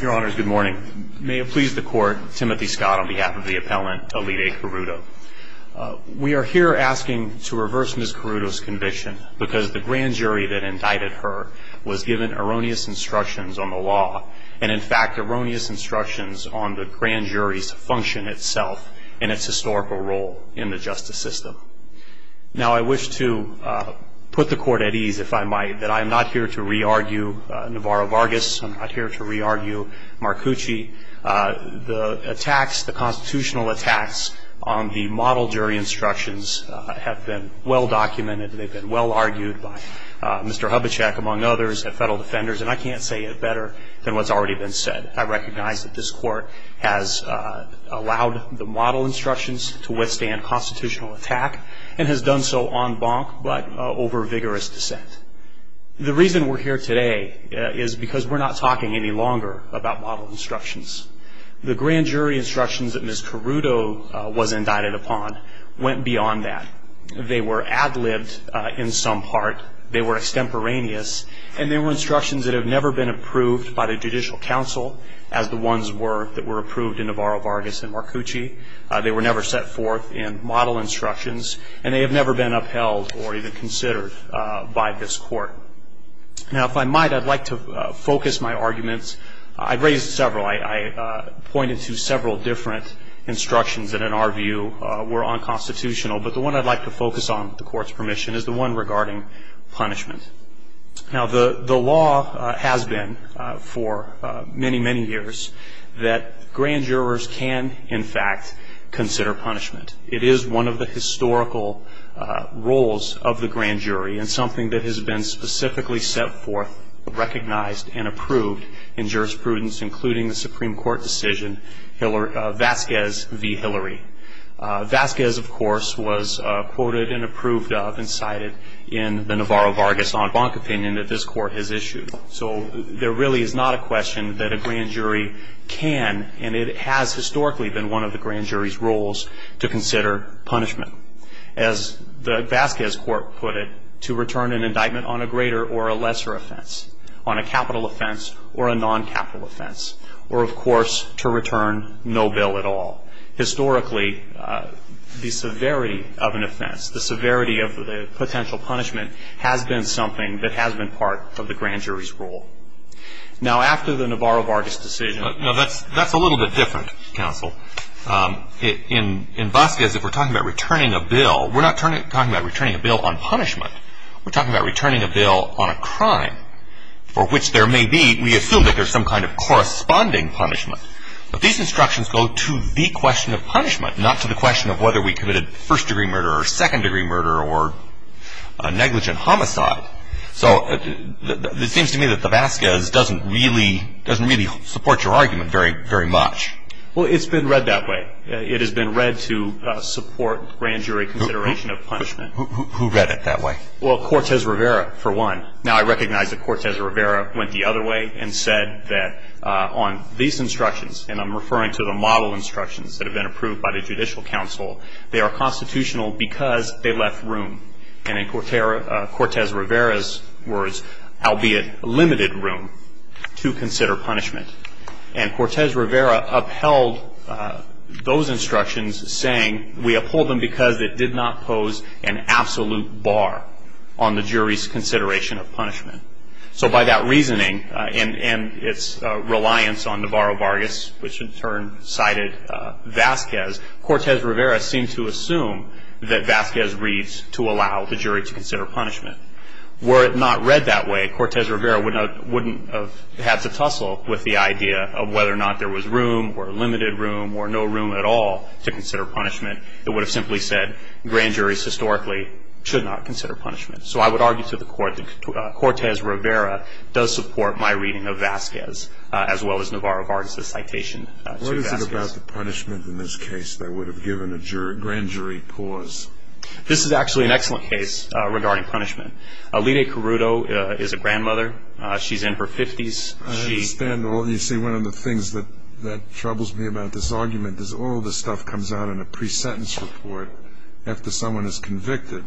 Your honors, good morning. May it please the court, Timothy Scott on behalf of the appellant Elide Caruto. We are here asking to reverse Ms. Caruto's conviction because the grand jury that indicted her was given erroneous instructions on the law and in fact erroneous instructions on the grand jury's function itself and its historical role in the justice system. Now I wish to put the court at ease, if I might, that I am not here to re-argue Navarro-Vargas. I'm not here to re-argue Marcucci. The attacks, the constitutional attacks on the model jury instructions have been well-documented. They've been well-argued by Mr. Hubachek, among others, and federal defenders, and I can't say it better than what's already been said. I recognize that this court has allowed the model instructions to withstand constitutional attack and has done so en banc, but over vigorous dissent. The reason we're here today is because we're not talking any longer about model instructions. The grand jury instructions that Ms. Caruto was indicted upon went beyond that. They were ad-libbed in some part. They were extemporaneous, and they were instructions that have never been approved by the judicial council, as the ones that were approved in Navarro-Vargas and Marcucci. They were never set forth in model instructions, and they have never been upheld or even considered by this court. Now, if I might, I'd like to focus my arguments. I raised several. I pointed to several different instructions that, in our view, were unconstitutional, but the one I'd like to focus on, with the court's permission, is the one regarding punishment. Now, the law has been for many, many years that grand jurors can, in fact, consider punishment. It is one of the historical roles of the grand jury and something that has been specifically set forth, recognized, and approved in jurisprudence, including the Supreme Court decision Vasquez v. Hillary. Vasquez, of course, was quoted and approved of and cited in the Navarro-Vargas en banc opinion that this court has issued. So there really is not a question that a grand jury can, and it has historically been one of the grand jury's roles, to consider punishment. As the Vasquez court put it, to return an indictment on a greater or a lesser offense, on a capital offense or a non-capital offense, or, of course, to return no bill at all. Historically, the severity of an offense, the severity of the potential punishment, has been something that has been part of the grand jury's role. Now, after the Navarro-Vargas decision. No, that's a little bit different, counsel. In Vasquez, if we're talking about returning a bill, we're not talking about returning a bill on punishment. We're talking about returning a bill on a crime for which there may be, we assume that there's some kind of corresponding punishment. But these instructions go to the question of punishment, not to the question of whether we committed first-degree murder or second-degree murder or a negligent homicide. So it seems to me that the Vasquez doesn't really support your argument very much. Well, it's been read that way. It has been read to support grand jury consideration of punishment. Who read it that way? Well, Cortez Rivera, for one. Now, I recognize that Cortez Rivera went the other way and said that on these instructions, and I'm referring to the model instructions that have been approved by the judicial counsel, they are constitutional because they left room. And in Cortez Rivera's words, albeit limited room to consider punishment. And Cortez Rivera upheld those instructions, saying, we uphold them because it did not pose an absolute bar on the jury's consideration of punishment. So by that reasoning and its reliance on Navarro-Vargas, which in turn cited Vasquez, Cortez Rivera seemed to assume that Vasquez reads to allow the jury to consider punishment. Were it not read that way, Cortez Rivera wouldn't have had to tussle with the idea of whether or not there was room or limited room or no room at all to consider punishment. It would have simply said grand juries historically should not consider punishment. So I would argue to the court that Cortez Rivera does support my reading of Vasquez, as well as Navarro-Vargas' citation to Vasquez. What is it about the punishment in this case that would have given a grand jury pause? This is actually an excellent case regarding punishment. Lide Carruto is a grandmother. She's in her 50s. You see, one of the things that troubles me about this argument is all this stuff comes out in a pre-sentence report after someone is convicted.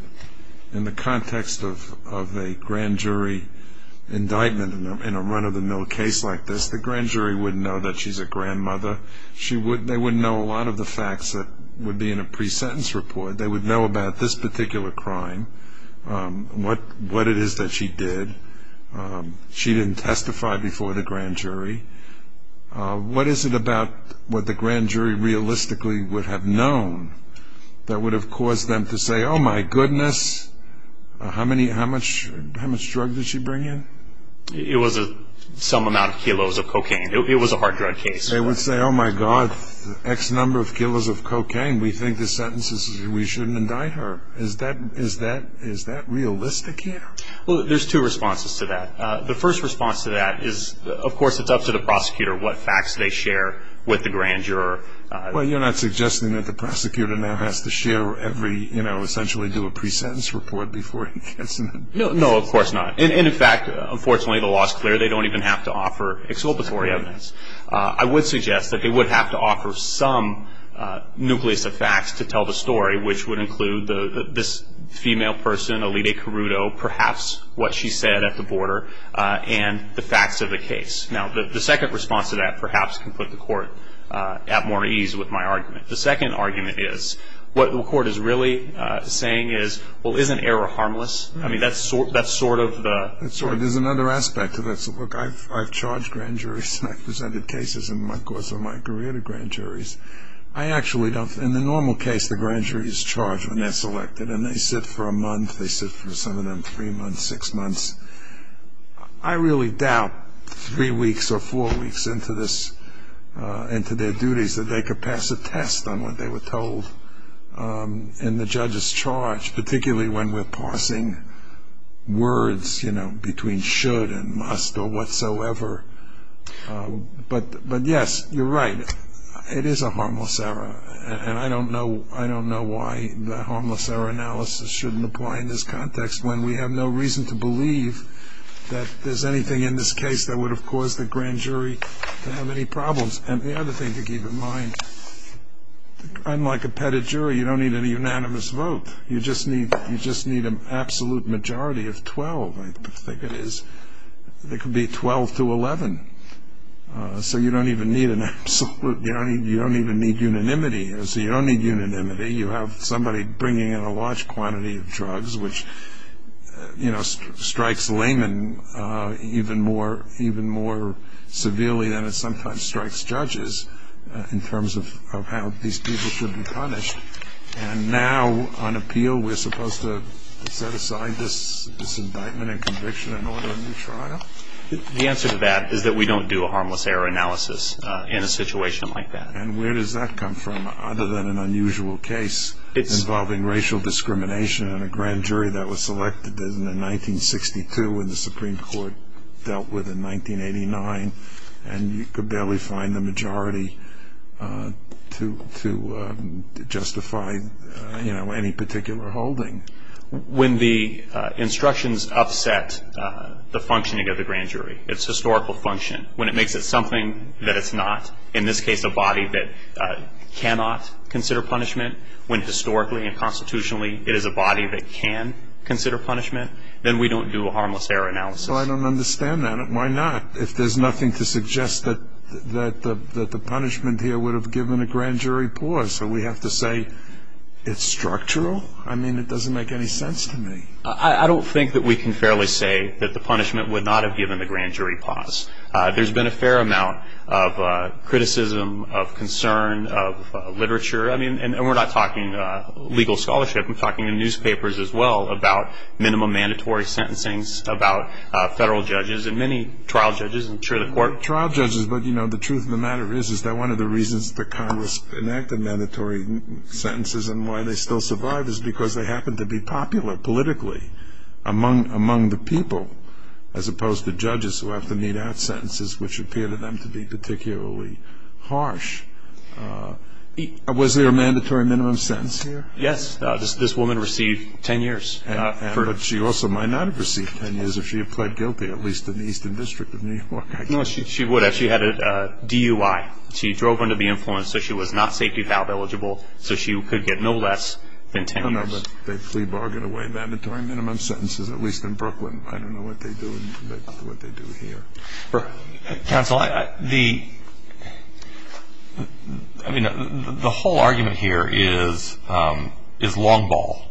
In the context of a grand jury indictment in a run-of-the-mill case like this, the grand jury wouldn't know that she's a grandmother. They wouldn't know a lot of the facts that would be in a pre-sentence report. They would know about this particular crime, what it is that she did. She didn't testify before the grand jury. What is it about what the grand jury realistically would have known that would have caused them to say, oh, my goodness, how much drug did she bring in? It was some amount of kilos of cocaine. It was a hard drug case. They would say, oh, my God, X number of kilos of cocaine. We think the sentence is we shouldn't indict her. Is that realistic here? Well, there's two responses to that. The first response to that is, of course, it's up to the prosecutor what facts they share with the grand juror. Well, you're not suggesting that the prosecutor now has to share every, you know, essentially do a pre-sentence report before he gets an indictment? No, of course not. And, in fact, unfortunately, the law is clear. They don't even have to offer exculpatory evidence. I would suggest that they would have to offer some nucleus of facts to tell the story, which would include this female person, Alita Carruto, perhaps what she said at the border, and the facts of the case. Now, the second response to that perhaps can put the court at more ease with my argument. The second argument is what the court is really saying is, well, isn't error harmless? I mean, that's sort of the – There's another aspect to this. Look, I've charged grand juries and I've presented cases in my course of my career to grand juries. I actually don't – in the normal case, the grand jury is charged when they're selected, and they sit for a month, they sit for some of them three months, six months. I really doubt three weeks or four weeks into this, into their duties, that they could pass a test on what they were told in the judge's charge, particularly when we're parsing words, you know, between should and must or whatsoever. But, yes, you're right. It is a harmless error, and I don't know why the harmless error analysis shouldn't apply in this context when we have no reason to believe that there's anything in this case that would have caused the grand jury to have any problems. And the other thing to keep in mind, unlike a petted jury, you don't need a unanimous vote. You just need an absolute majority of 12, I think it is. It could be 12 to 11. So you don't even need an absolute – you don't even need unanimity. So you don't need unanimity. You have somebody bringing in a large quantity of drugs, which strikes laymen even more severely than it sometimes strikes judges in terms of how these people should be punished. And now, on appeal, we're supposed to set aside this indictment and conviction and order a new trial? The answer to that is that we don't do a harmless error analysis in a situation like that. And where does that come from other than an unusual case involving racial discrimination in a grand jury that was selected in 1962 and the Supreme Court dealt with in 1989, and you could barely find the majority to justify, you know, any particular holding? When the instructions upset the functioning of the grand jury, its historical function, when it makes it something that it's not, in this case a body that cannot consider punishment, when historically and constitutionally it is a body that can consider punishment, then we don't do a harmless error analysis. Well, I don't understand that. Why not? If there's nothing to suggest that the punishment here would have given a grand jury pause, so we have to say it's structural? I mean, it doesn't make any sense to me. I don't think that we can fairly say that the punishment would not have given the grand jury pause. There's been a fair amount of criticism, of concern, of literature. I mean, and we're not talking legal scholarship. We're talking in newspapers as well about minimum mandatory sentencing, about federal judges, and many trial judges in the court. Trial judges, but, you know, the truth of the matter is, is that one of the reasons that Congress enacted mandatory sentences and why they still survive is because they happen to be popular politically among the people, as opposed to judges who have to mete out sentences which appear to them to be particularly harsh. Was there a mandatory minimum sentence here? Yes. This woman received ten years. But she also might not have received ten years if she had pled guilty, at least in the Eastern District of New York, I guess. No, she would have. She had a DUI. She drove under the influence, so she was not safety valve eligible, so she could get no less than ten years. No, no, but they bargain away mandatory minimum sentences, at least in Brooklyn. I don't know what they do here. Counsel, the whole argument here is long ball,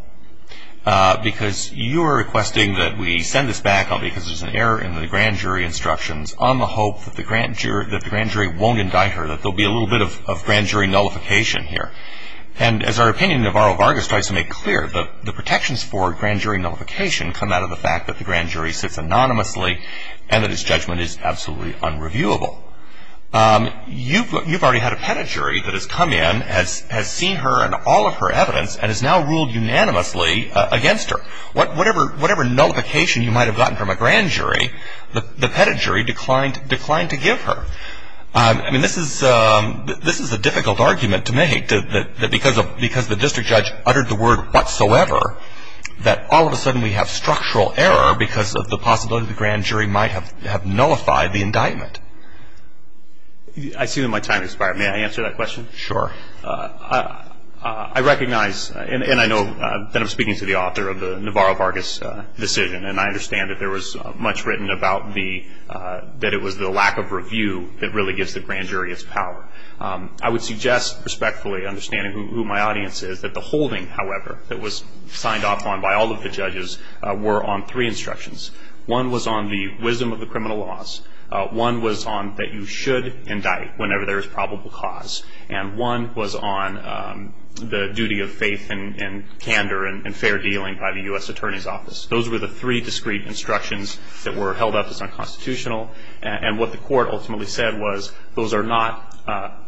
because you are requesting that we send this back, because there's an error in the grand jury instructions, on the hope that the grand jury won't indict her, that there will be a little bit of grand jury nullification here. And as our opinion in Navarro-Vargas tries to make clear, the protections for grand jury nullification come out of the fact that the grand jury sits anonymously and that its judgment is absolutely unreviewable. You've already had a pettit jury that has come in, has seen her and all of her evidence, and has now ruled unanimously against her. Whatever nullification you might have gotten from a grand jury, the pettit jury declined to give her. I mean, this is a difficult argument to make, that because the district judge uttered the word whatsoever, that all of a sudden we have structural error, because of the possibility the grand jury might have nullified the indictment. I see that my time has expired. May I answer that question? Sure. I recognize, and I know that I'm speaking to the author of the Navarro-Vargas decision, and I understand that there was much written about the, that it was the lack of review that really gives the grand jury its power. I would suggest respectfully, understanding who my audience is, that the holding, however, that was signed off on by all of the judges were on three instructions. One was on the wisdom of the criminal laws. One was on that you should indict whenever there is probable cause. And one was on the duty of faith and candor and fair dealing by the U.S. Attorney's Office. Those were the three discrete instructions that were held up as unconstitutional. And what the court ultimately said was, those are not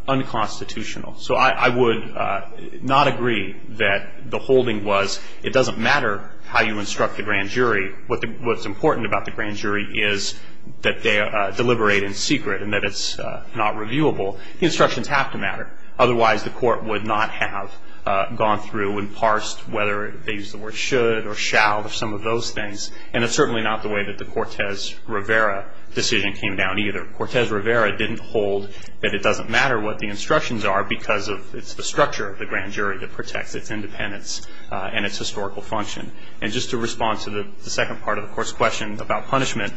unconstitutional. So I would not agree that the holding was, it doesn't matter how you instruct the grand jury. What's important about the grand jury is that they deliberate in secret and that it's not reviewable. The instructions have to matter. Otherwise, the court would not have gone through and parsed whether they used the word should or shall or some of those things. And it's certainly not the way that the Cortez Rivera decision came down either. Cortez Rivera didn't hold that it doesn't matter what the instructions are because it's the structure of the grand jury that protects its independence and its historical function. And just to respond to the second part of the court's question about punishment,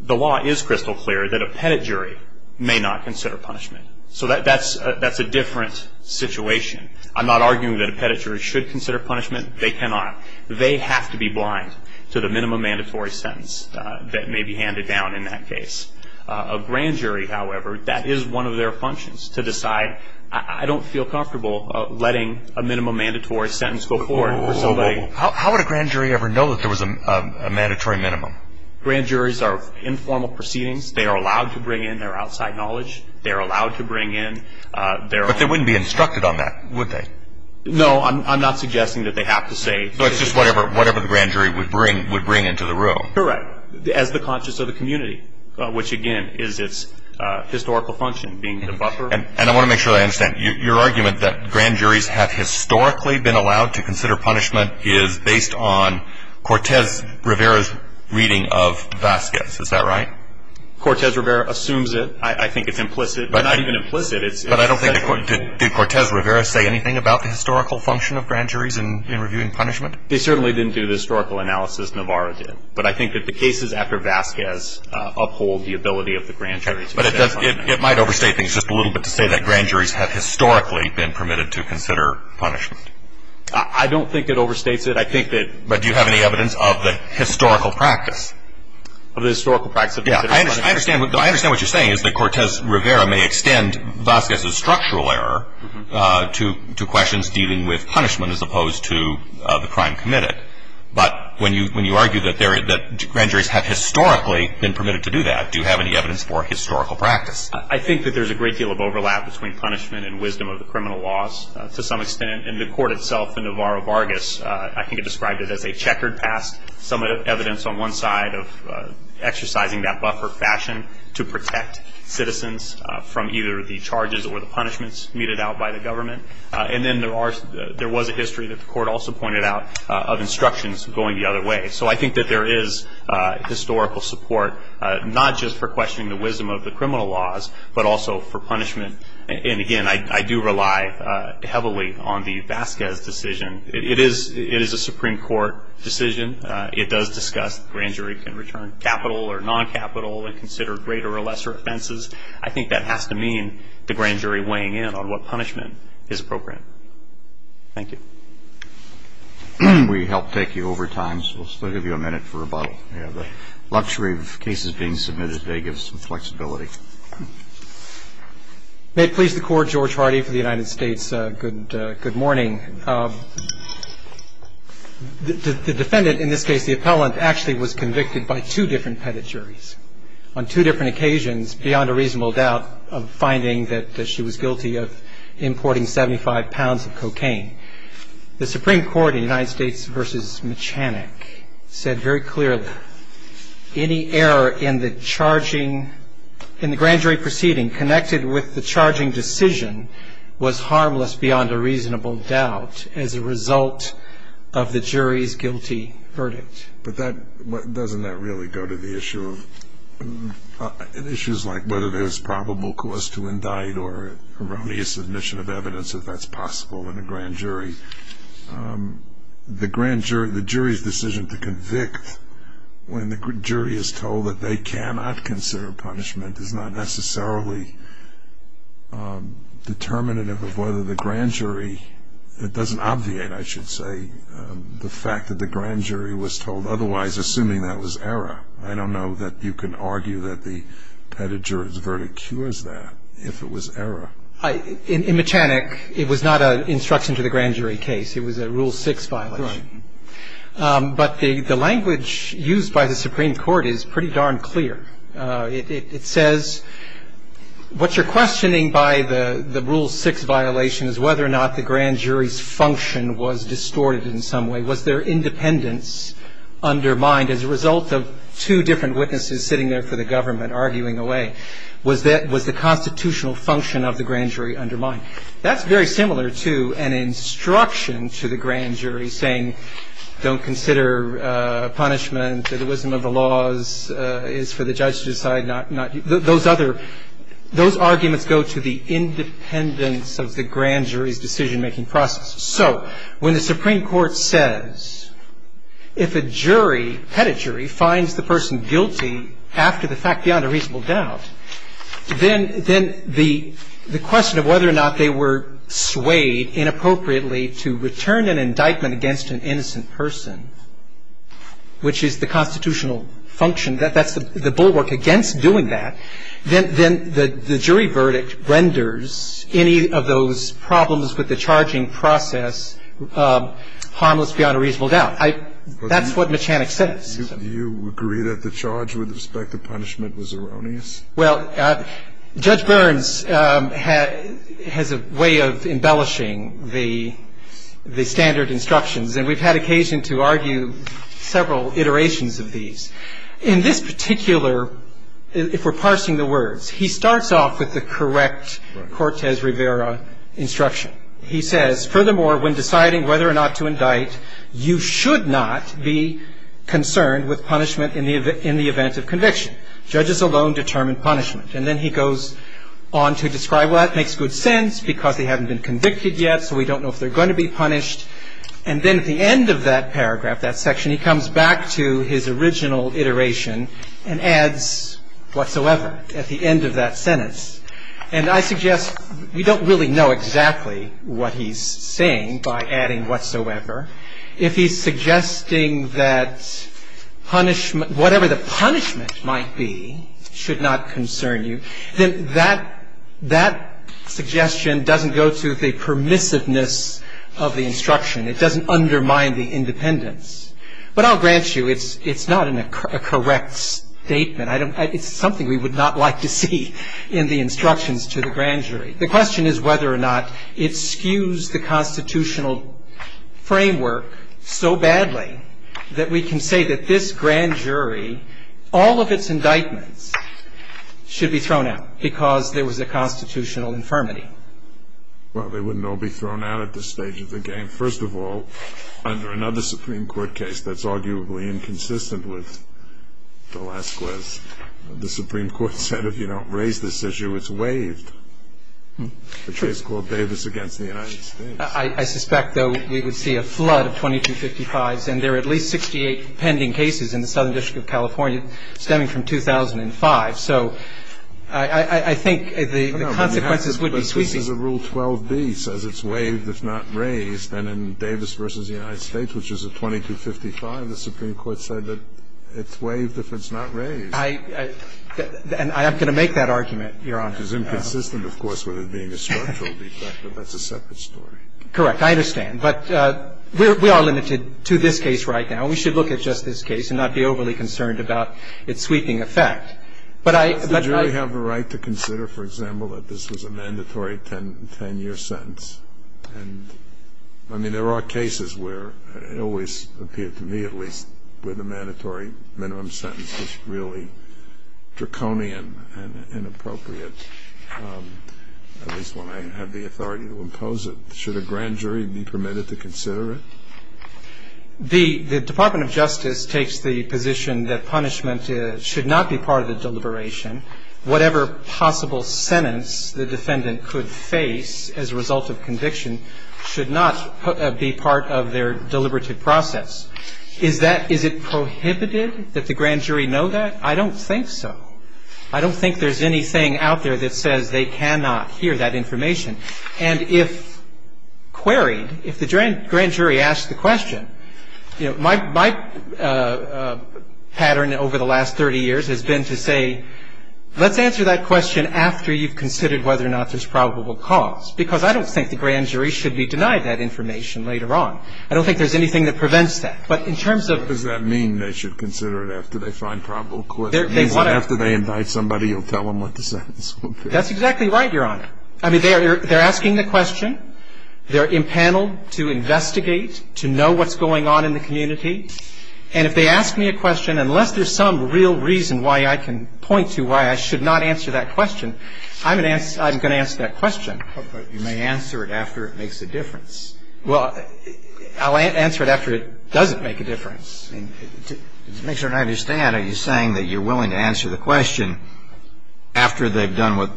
the law is crystal clear that a pettit jury may not consider punishment. So that's a different situation. I'm not arguing that a pettit jury should consider punishment. They cannot. They have to be blind to the minimum mandatory sentence that may be handed down in that case. A grand jury, however, that is one of their functions to decide. I don't feel comfortable letting a minimum mandatory sentence go forward for somebody. How would a grand jury ever know that there was a mandatory minimum? Grand juries are informal proceedings. They are allowed to bring in their outside knowledge. They are allowed to bring in their own. But they wouldn't be instructed on that, would they? No, I'm not suggesting that they have to say. So it's just whatever the grand jury would bring into the room. Correct. But as the conscience of the community, which, again, is its historical function being the buffer. And I want to make sure that I understand. Your argument that grand juries have historically been allowed to consider punishment is based on Cortez Rivera's reading of Vasquez. Is that right? Cortez Rivera assumes it. I think it's implicit, but not even implicit. But I don't think the court did. Did Cortez Rivera say anything about the historical function of grand juries in reviewing punishment? They certainly didn't do the historical analysis Navarro did. But I think that the cases after Vasquez uphold the ability of the grand juries. But it might overstate things just a little bit to say that grand juries have historically been permitted to consider punishment. I don't think it overstates it. I think that. But do you have any evidence of the historical practice? Of the historical practice of considering punishment? I understand what you're saying is that Cortez Rivera may extend Vasquez's structural error to questions dealing with punishment as opposed to the crime committed. But when you argue that grand juries have historically been permitted to do that, do you have any evidence for historical practice? I think that there's a great deal of overlap between punishment and wisdom of the criminal laws to some extent. And the court itself in Navarro-Vargas, I think it described it as a checkered past. Some evidence on one side of exercising that buffer fashion to protect citizens from either the charges or the punishments meted out by the government. And then there was a history that the court also pointed out of instructions going the other way. So I think that there is historical support, not just for questioning the wisdom of the criminal laws, but also for punishment. And, again, I do rely heavily on the Vasquez decision. It is a Supreme Court decision. It does discuss the grand jury can return capital or non-capital and consider greater or lesser offenses. I think that has to mean the grand jury weighing in on what punishment is appropriate. Thank you. We helped take you over time, so we'll still give you a minute for rebuttal. We have the luxury of cases being submitted today gives us some flexibility. May it please the Court, George Hardy for the United States, good morning. The defendant, in this case the appellant, actually was convicted by two different pettit juries on two different occasions beyond a reasonable doubt of finding that she was guilty of importing 75 pounds of cocaine. The Supreme Court in the United States v. Machanek said very clearly, any error in the grand jury proceeding connected with the charging decision was harmless beyond a reasonable doubt as a result of the jury's guilty verdict. But doesn't that really go to the issue of issues like whether there's probable cause to indict or erroneous submission of evidence if that's possible in a grand jury? The jury's decision to convict when the jury is told that they cannot consider punishment is not necessarily determinative of whether the grand jury, it doesn't obviate, I should say, the fact that the grand jury was told otherwise, assuming that was error. I don't know that you can argue that the pettit jury's verdict cures that if it was error. In Machanek, it was not an instruction to the grand jury case. It was a Rule 6 violation. Right. But the language used by the Supreme Court is pretty darn clear. It says what you're questioning by the Rule 6 violation is whether or not the grand jury's function was distorted in some way. Was their independence undermined as a result of two different witnesses sitting there for the government arguing away? Was the constitutional function of the grand jury undermined? That's very similar to an instruction to the grand jury saying don't consider punishment or the wisdom of the laws is for the judge to decide not, those other, those arguments go to the independence of the grand jury's decision-making process. So when the Supreme Court says if a jury, pettit jury, finds the person guilty after the fact beyond a reasonable doubt, then the question of whether or not they were swayed inappropriately to return an indictment against an innocent person, which is the constitutional function, that's the bulwark against doing that, then the jury verdict renders any of those problems with the charging process harmless beyond a reasonable doubt. That's what Machanek says. Do you agree that the charge with respect to punishment was erroneous? Well, Judge Burns has a way of embellishing the standard instructions, and we've had occasion to argue several iterations of these. In this particular, if we're parsing the words, he starts off with the correct Cortez Rivera instruction. He says, furthermore, when deciding whether or not to indict, you should not be concerned with punishment in the event of conviction. Judges alone determine punishment. And then he goes on to describe, well, that makes good sense because they haven't been convicted yet, so we don't know if they're going to be punished. And then at the end of that paragraph, that section, he comes back to his original iteration and adds whatsoever at the end of that sentence. And I suggest we don't really know exactly what he's saying by adding whatsoever. If he's suggesting that whatever the punishment might be should not concern you, then that suggestion doesn't go to the permissiveness of the instruction. It doesn't undermine the independence. But I'll grant you, it's not a correct statement. It's something we would not like to see in the instructions to the grand jury. The question is whether or not it skews the constitutional framework so badly that we can say that this grand jury, all of its indictments, should be thrown out because there was a constitutional infirmity. Well, they wouldn't all be thrown out at this stage of the game. First of all, under another Supreme Court case that's arguably inconsistent with the last class, the Supreme Court said if you don't raise this issue, it's waived. The case called Davis v. The United States. I suspect, though, we would see a flood of 2255s, and there are at least 68 pending cases in the Southern District of California stemming from 2005. So I think the consequences would be sweeping. But this is a Rule 12b. It says it's waived if not raised. And in Davis v. The United States, which is a 2255, the Supreme Court said that it's waived if it's not raised. And I'm going to make that argument. Your Honor. It's inconsistent, of course, with it being a structural defect, but that's a separate story. Correct. I understand. But we are limited to this case right now. We should look at just this case and not be overly concerned about its sweeping effect. But I --. Does the jury have a right to consider, for example, that this was a mandatory 10-year sentence? And, I mean, there are cases where it always appeared to me, at least, where the authority to impose it. Should a grand jury be permitted to consider it? The Department of Justice takes the position that punishment should not be part of the deliberation. Whatever possible sentence the defendant could face as a result of conviction should not be part of their deliberative process. Is that ‑‑ is it prohibited that the grand jury know that? I don't think so. I don't think there's anything out there that says they cannot hear that information. And if queried, if the grand jury asks the question, you know, my pattern over the last 30 years has been to say, let's answer that question after you've considered whether or not there's probable cause, because I don't think the grand jury should be denied that information later on. I don't think there's anything that prevents that. But in terms of ‑‑ Does that mean they should consider it after they find probable cause? After they invite somebody, you'll tell them what the sentence will be? That's exactly right, Your Honor. I mean, they're asking the question. They're impaneled to investigate, to know what's going on in the community. And if they ask me a question, unless there's some real reason why I can point to why I should not answer that question, I'm going to answer that question. But you may answer it after it makes a difference. Well, I'll answer it after it doesn't make a difference. To make sure I understand, are you saying that you're willing to answer the question after they've done what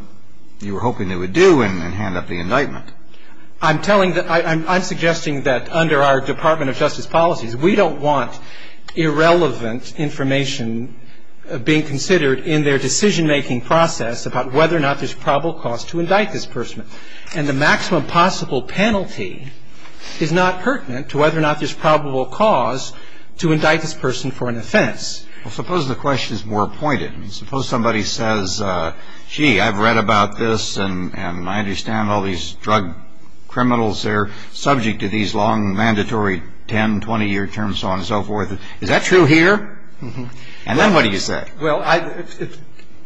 you were hoping they would do and hand up the indictment? I'm telling the ‑‑ I'm suggesting that under our Department of Justice policies, we don't want irrelevant information being considered in their decisionmaking process about whether or not there's probable cause to indict this person. And the maximum possible penalty is not pertinent to whether or not there's probable cause to indict this person for an offense. Well, suppose the question is more pointed. Suppose somebody says, gee, I've read about this, and I understand all these drug criminals. They're subject to these long, mandatory 10, 20‑year terms, so on and so forth. Is that true here? And then what do you say? Well,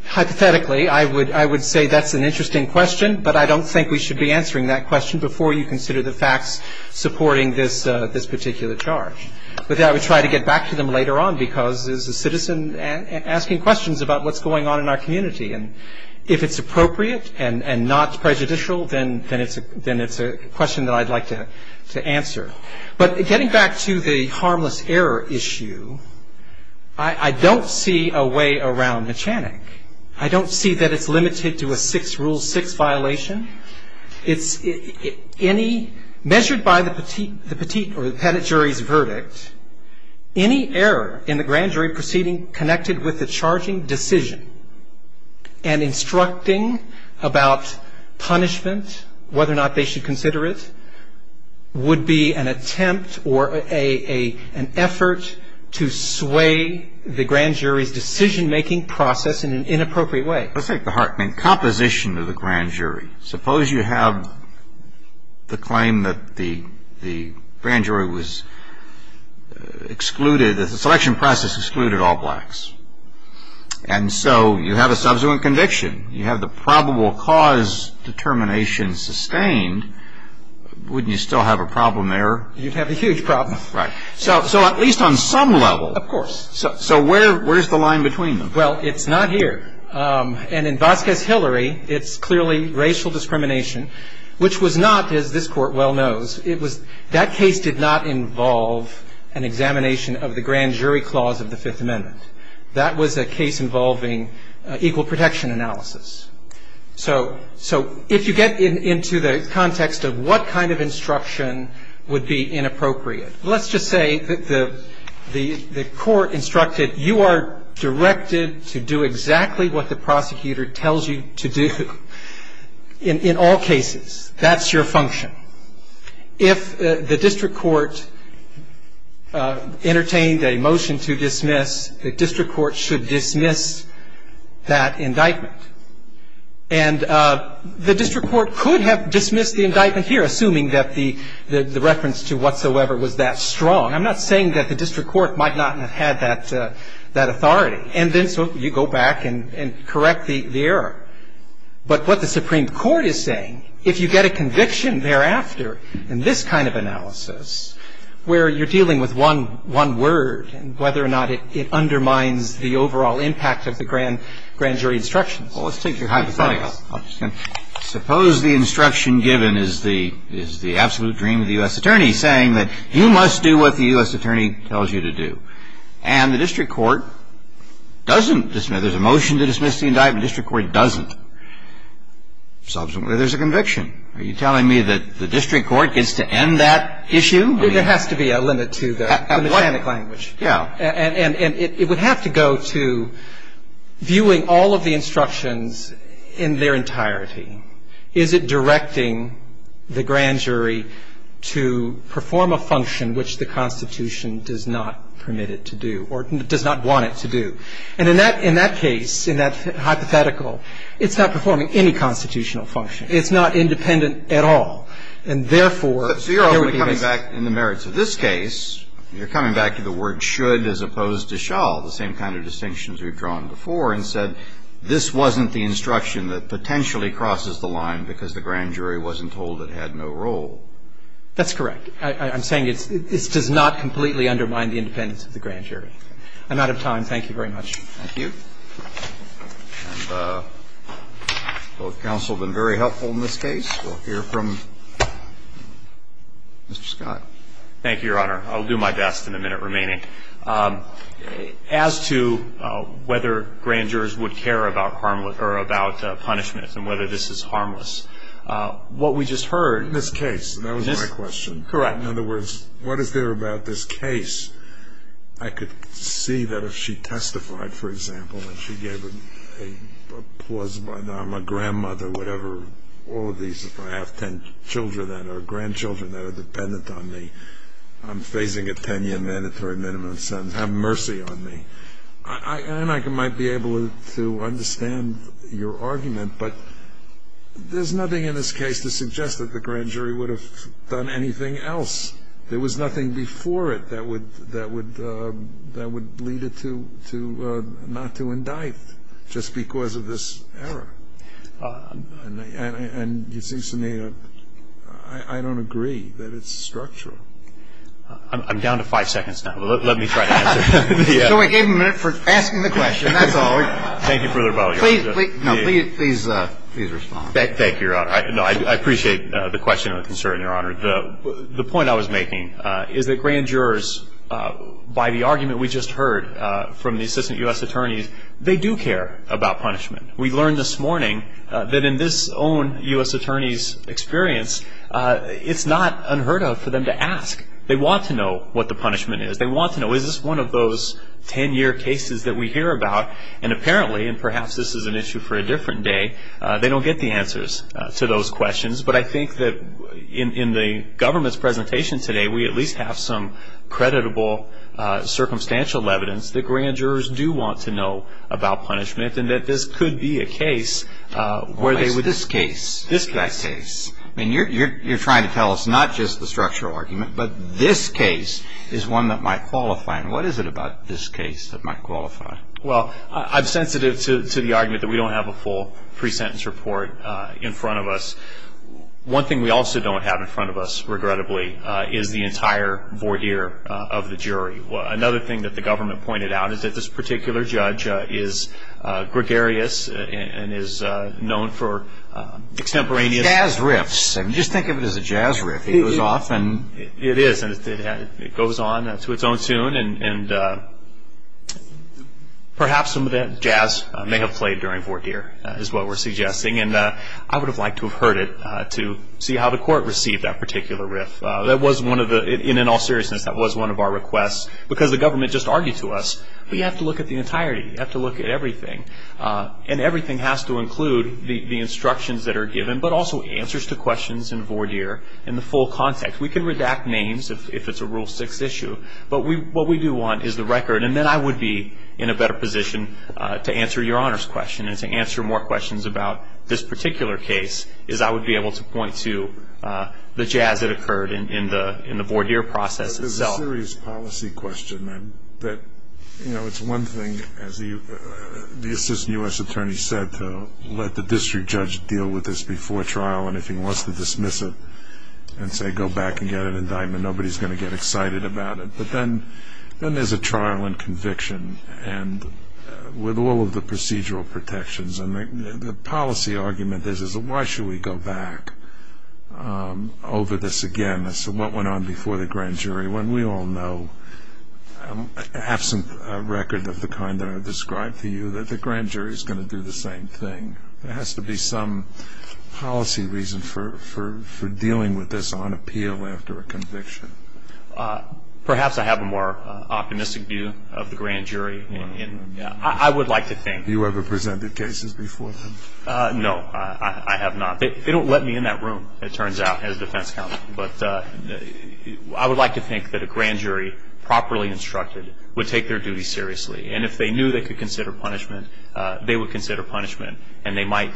hypothetically, I would say that's an interesting question, but I don't think we should be answering that question before you consider the facts supporting this particular charge. But then I would try to get back to them later on, because there's a citizen asking questions about what's going on in our community. And if it's appropriate and not prejudicial, then it's a question that I'd like to answer. But getting back to the harmless error issue, I don't see a way around Mechanic. I don't see that it's limited to a Rule 6 violation. Measured by the Petit or the Petit jury's verdict, any error in the grand jury proceeding connected with the charging decision and instructing about punishment, whether or not they should consider it, would be an attempt or an effort to sway the grand jury's decision‑making process in an inappropriate way. Let's take the hard thing, composition of the grand jury. Suppose you have the claim that the grand jury was excluded, that the selection process excluded all blacks. And so you have a subsequent conviction. You have the probable cause determination sustained. Wouldn't you still have a problem error? You'd have a huge problem. Right. So at least on some level. Of course. So where's the line between them? Well, it's not here. And in Vasquez Hillary, it's clearly racial discrimination, which was not, as this Court well knows, that case did not involve an examination of the grand jury clause of the Fifth Amendment. That was a case involving equal protection analysis. So if you get into the context of what kind of instruction would be inappropriate, let's just say that the court instructed you are directed to do exactly what the prosecutor tells you to do in all cases. That's your function. If the district court entertained a motion to dismiss, the district court should dismiss that indictment. And the district court could have dismissed the indictment here, assuming that the reference to whatsoever was that strong. I'm not saying that the district court might not have had that authority. And then so you go back and correct the error. But what the Supreme Court is saying, if you get a conviction thereafter in this kind of analysis, where you're dealing with one word and whether or not it undermines the overall impact of the grand jury instructions. Well, let's take your hypothetical. Suppose the instruction given is the absolute dream of the U.S. attorney saying that you must do what the U.S. attorney tells you to do. And the district court doesn't dismiss it. There's a motion to dismiss the indictment. The district court doesn't. Subsequently, there's a conviction. Are you telling me that the district court gets to end that issue? There has to be a limit to the mechanic language. Yeah. And it would have to go to viewing all of the instructions in their entirety. Is it directing the grand jury to perform a function which the Constitution does not permit it to do or does not want it to do? And in that case, in that hypothetical, it's not performing any constitutional function. It's not independent at all. And, therefore, there would be this. So you're only coming back in the merits of this case, you're coming back to the word should as opposed to shall, the same kind of distinctions we've drawn before and said this wasn't the instruction that potentially crosses the line because the grand jury wasn't told it had no role. That's correct. I'm saying this does not completely undermine the independence of the grand jury. I'm out of time. Thank you very much. Thank you. And both counsel have been very helpful in this case. We'll hear from Mr. Scott. Thank you, Your Honor. I'll do my best in the minute remaining. As to whether grand jurors would care about punishment and whether this is harmless, what we just heard. This case. That was my question. Correct. In other words, what is there about this case? I could see that if she testified, for example, and she gave a pause, I'm a grandmother, whatever, all of these, if I have 10 children or grandchildren that are dependent on me, I'm facing a 10-year mandatory minimum sentence. Have mercy on me. And I might be able to understand your argument, but there's nothing in this case to suggest that the grand jury would have done anything else. There was nothing before it that would lead it not to indict just because of this error. And it seems to me I don't agree that it's structural. I'm down to five seconds now. Let me try to answer. So I gave him a minute for asking the question. That's all. Thank you for the rebuttal, Your Honor. Please respond. Thank you, Your Honor. I appreciate the question and the concern, Your Honor. The point I was making is that grand jurors, by the argument we just heard from the assistant U.S. attorneys, they do care about punishment. We learned this morning that in this own U.S. attorney's experience, it's not unheard of for them to ask. They want to know what the punishment is. They want to know, is this one of those 10-year cases that we hear about? And apparently, and perhaps this is an issue for a different day, they don't get the answers to those questions. But I think that in the government's presentation today, we at least have some creditable circumstantial evidence that grand jurors do want to know about punishment and that this could be a case where they would be. Why is this case that case? I mean, you're trying to tell us not just the structural argument, but this case is one that might qualify. And what is it about this case that might qualify? Well, I'm sensitive to the argument that we don't have a full pre-sentence report in front of us. One thing we also don't have in front of us, regrettably, is the entire voir dire of the jury. Another thing that the government pointed out is that this particular judge is gregarious and is known for extemporaneous. Jazz riffs. Just think of it as a jazz riff. It is. It goes on to its own tune. And perhaps some of that jazz may have played during voir dire is what we're suggesting. And I would have liked to have heard it to see how the court received that particular riff. That was one of the, in all seriousness, that was one of our requests. Because the government just argued to us, we have to look at the entirety. We have to look at everything. And everything has to include the instructions that are given, but also answers to questions in voir dire in the full context. We can redact names if it's a Rule 6 issue. But what we do want is the record. And then I would be in a better position to answer your Honor's question and to answer more questions about this particular case, as I would be able to point to the jazz that occurred in the voir dire process itself. It's a serious policy question. It's one thing, as the Assistant U.S. Attorney said, to let the district judge deal with this before trial. And if he wants to dismiss it and say, go back and get an indictment, nobody's going to get excited about it. But then there's a trial and conviction with all of the procedural protections. And the policy argument is, why should we go back over this again? Your Honor, so what went on before the grand jury when we all know, absent a record of the kind that I've described to you, that the grand jury is going to do the same thing? There has to be some policy reason for dealing with this on appeal after a conviction. Perhaps I have a more optimistic view of the grand jury. I would like to think. Have you ever presented cases before them? No, I have not. They don't let me in that room, it turns out, as defense counsel. But I would like to think that a grand jury properly instructed would take their duty seriously. And if they knew they could consider punishment, they would consider punishment. And they might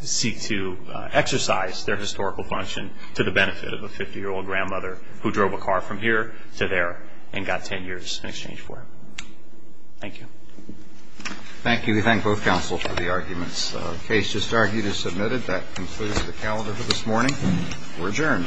seek to exercise their historical function to the benefit of a 50-year-old grandmother who drove a car from here to there and got 10 years in exchange for it. Thank you. Thank you. We thank both counsel for the arguments. The case just argued is submitted. That concludes the calendar for this morning. We're adjourned.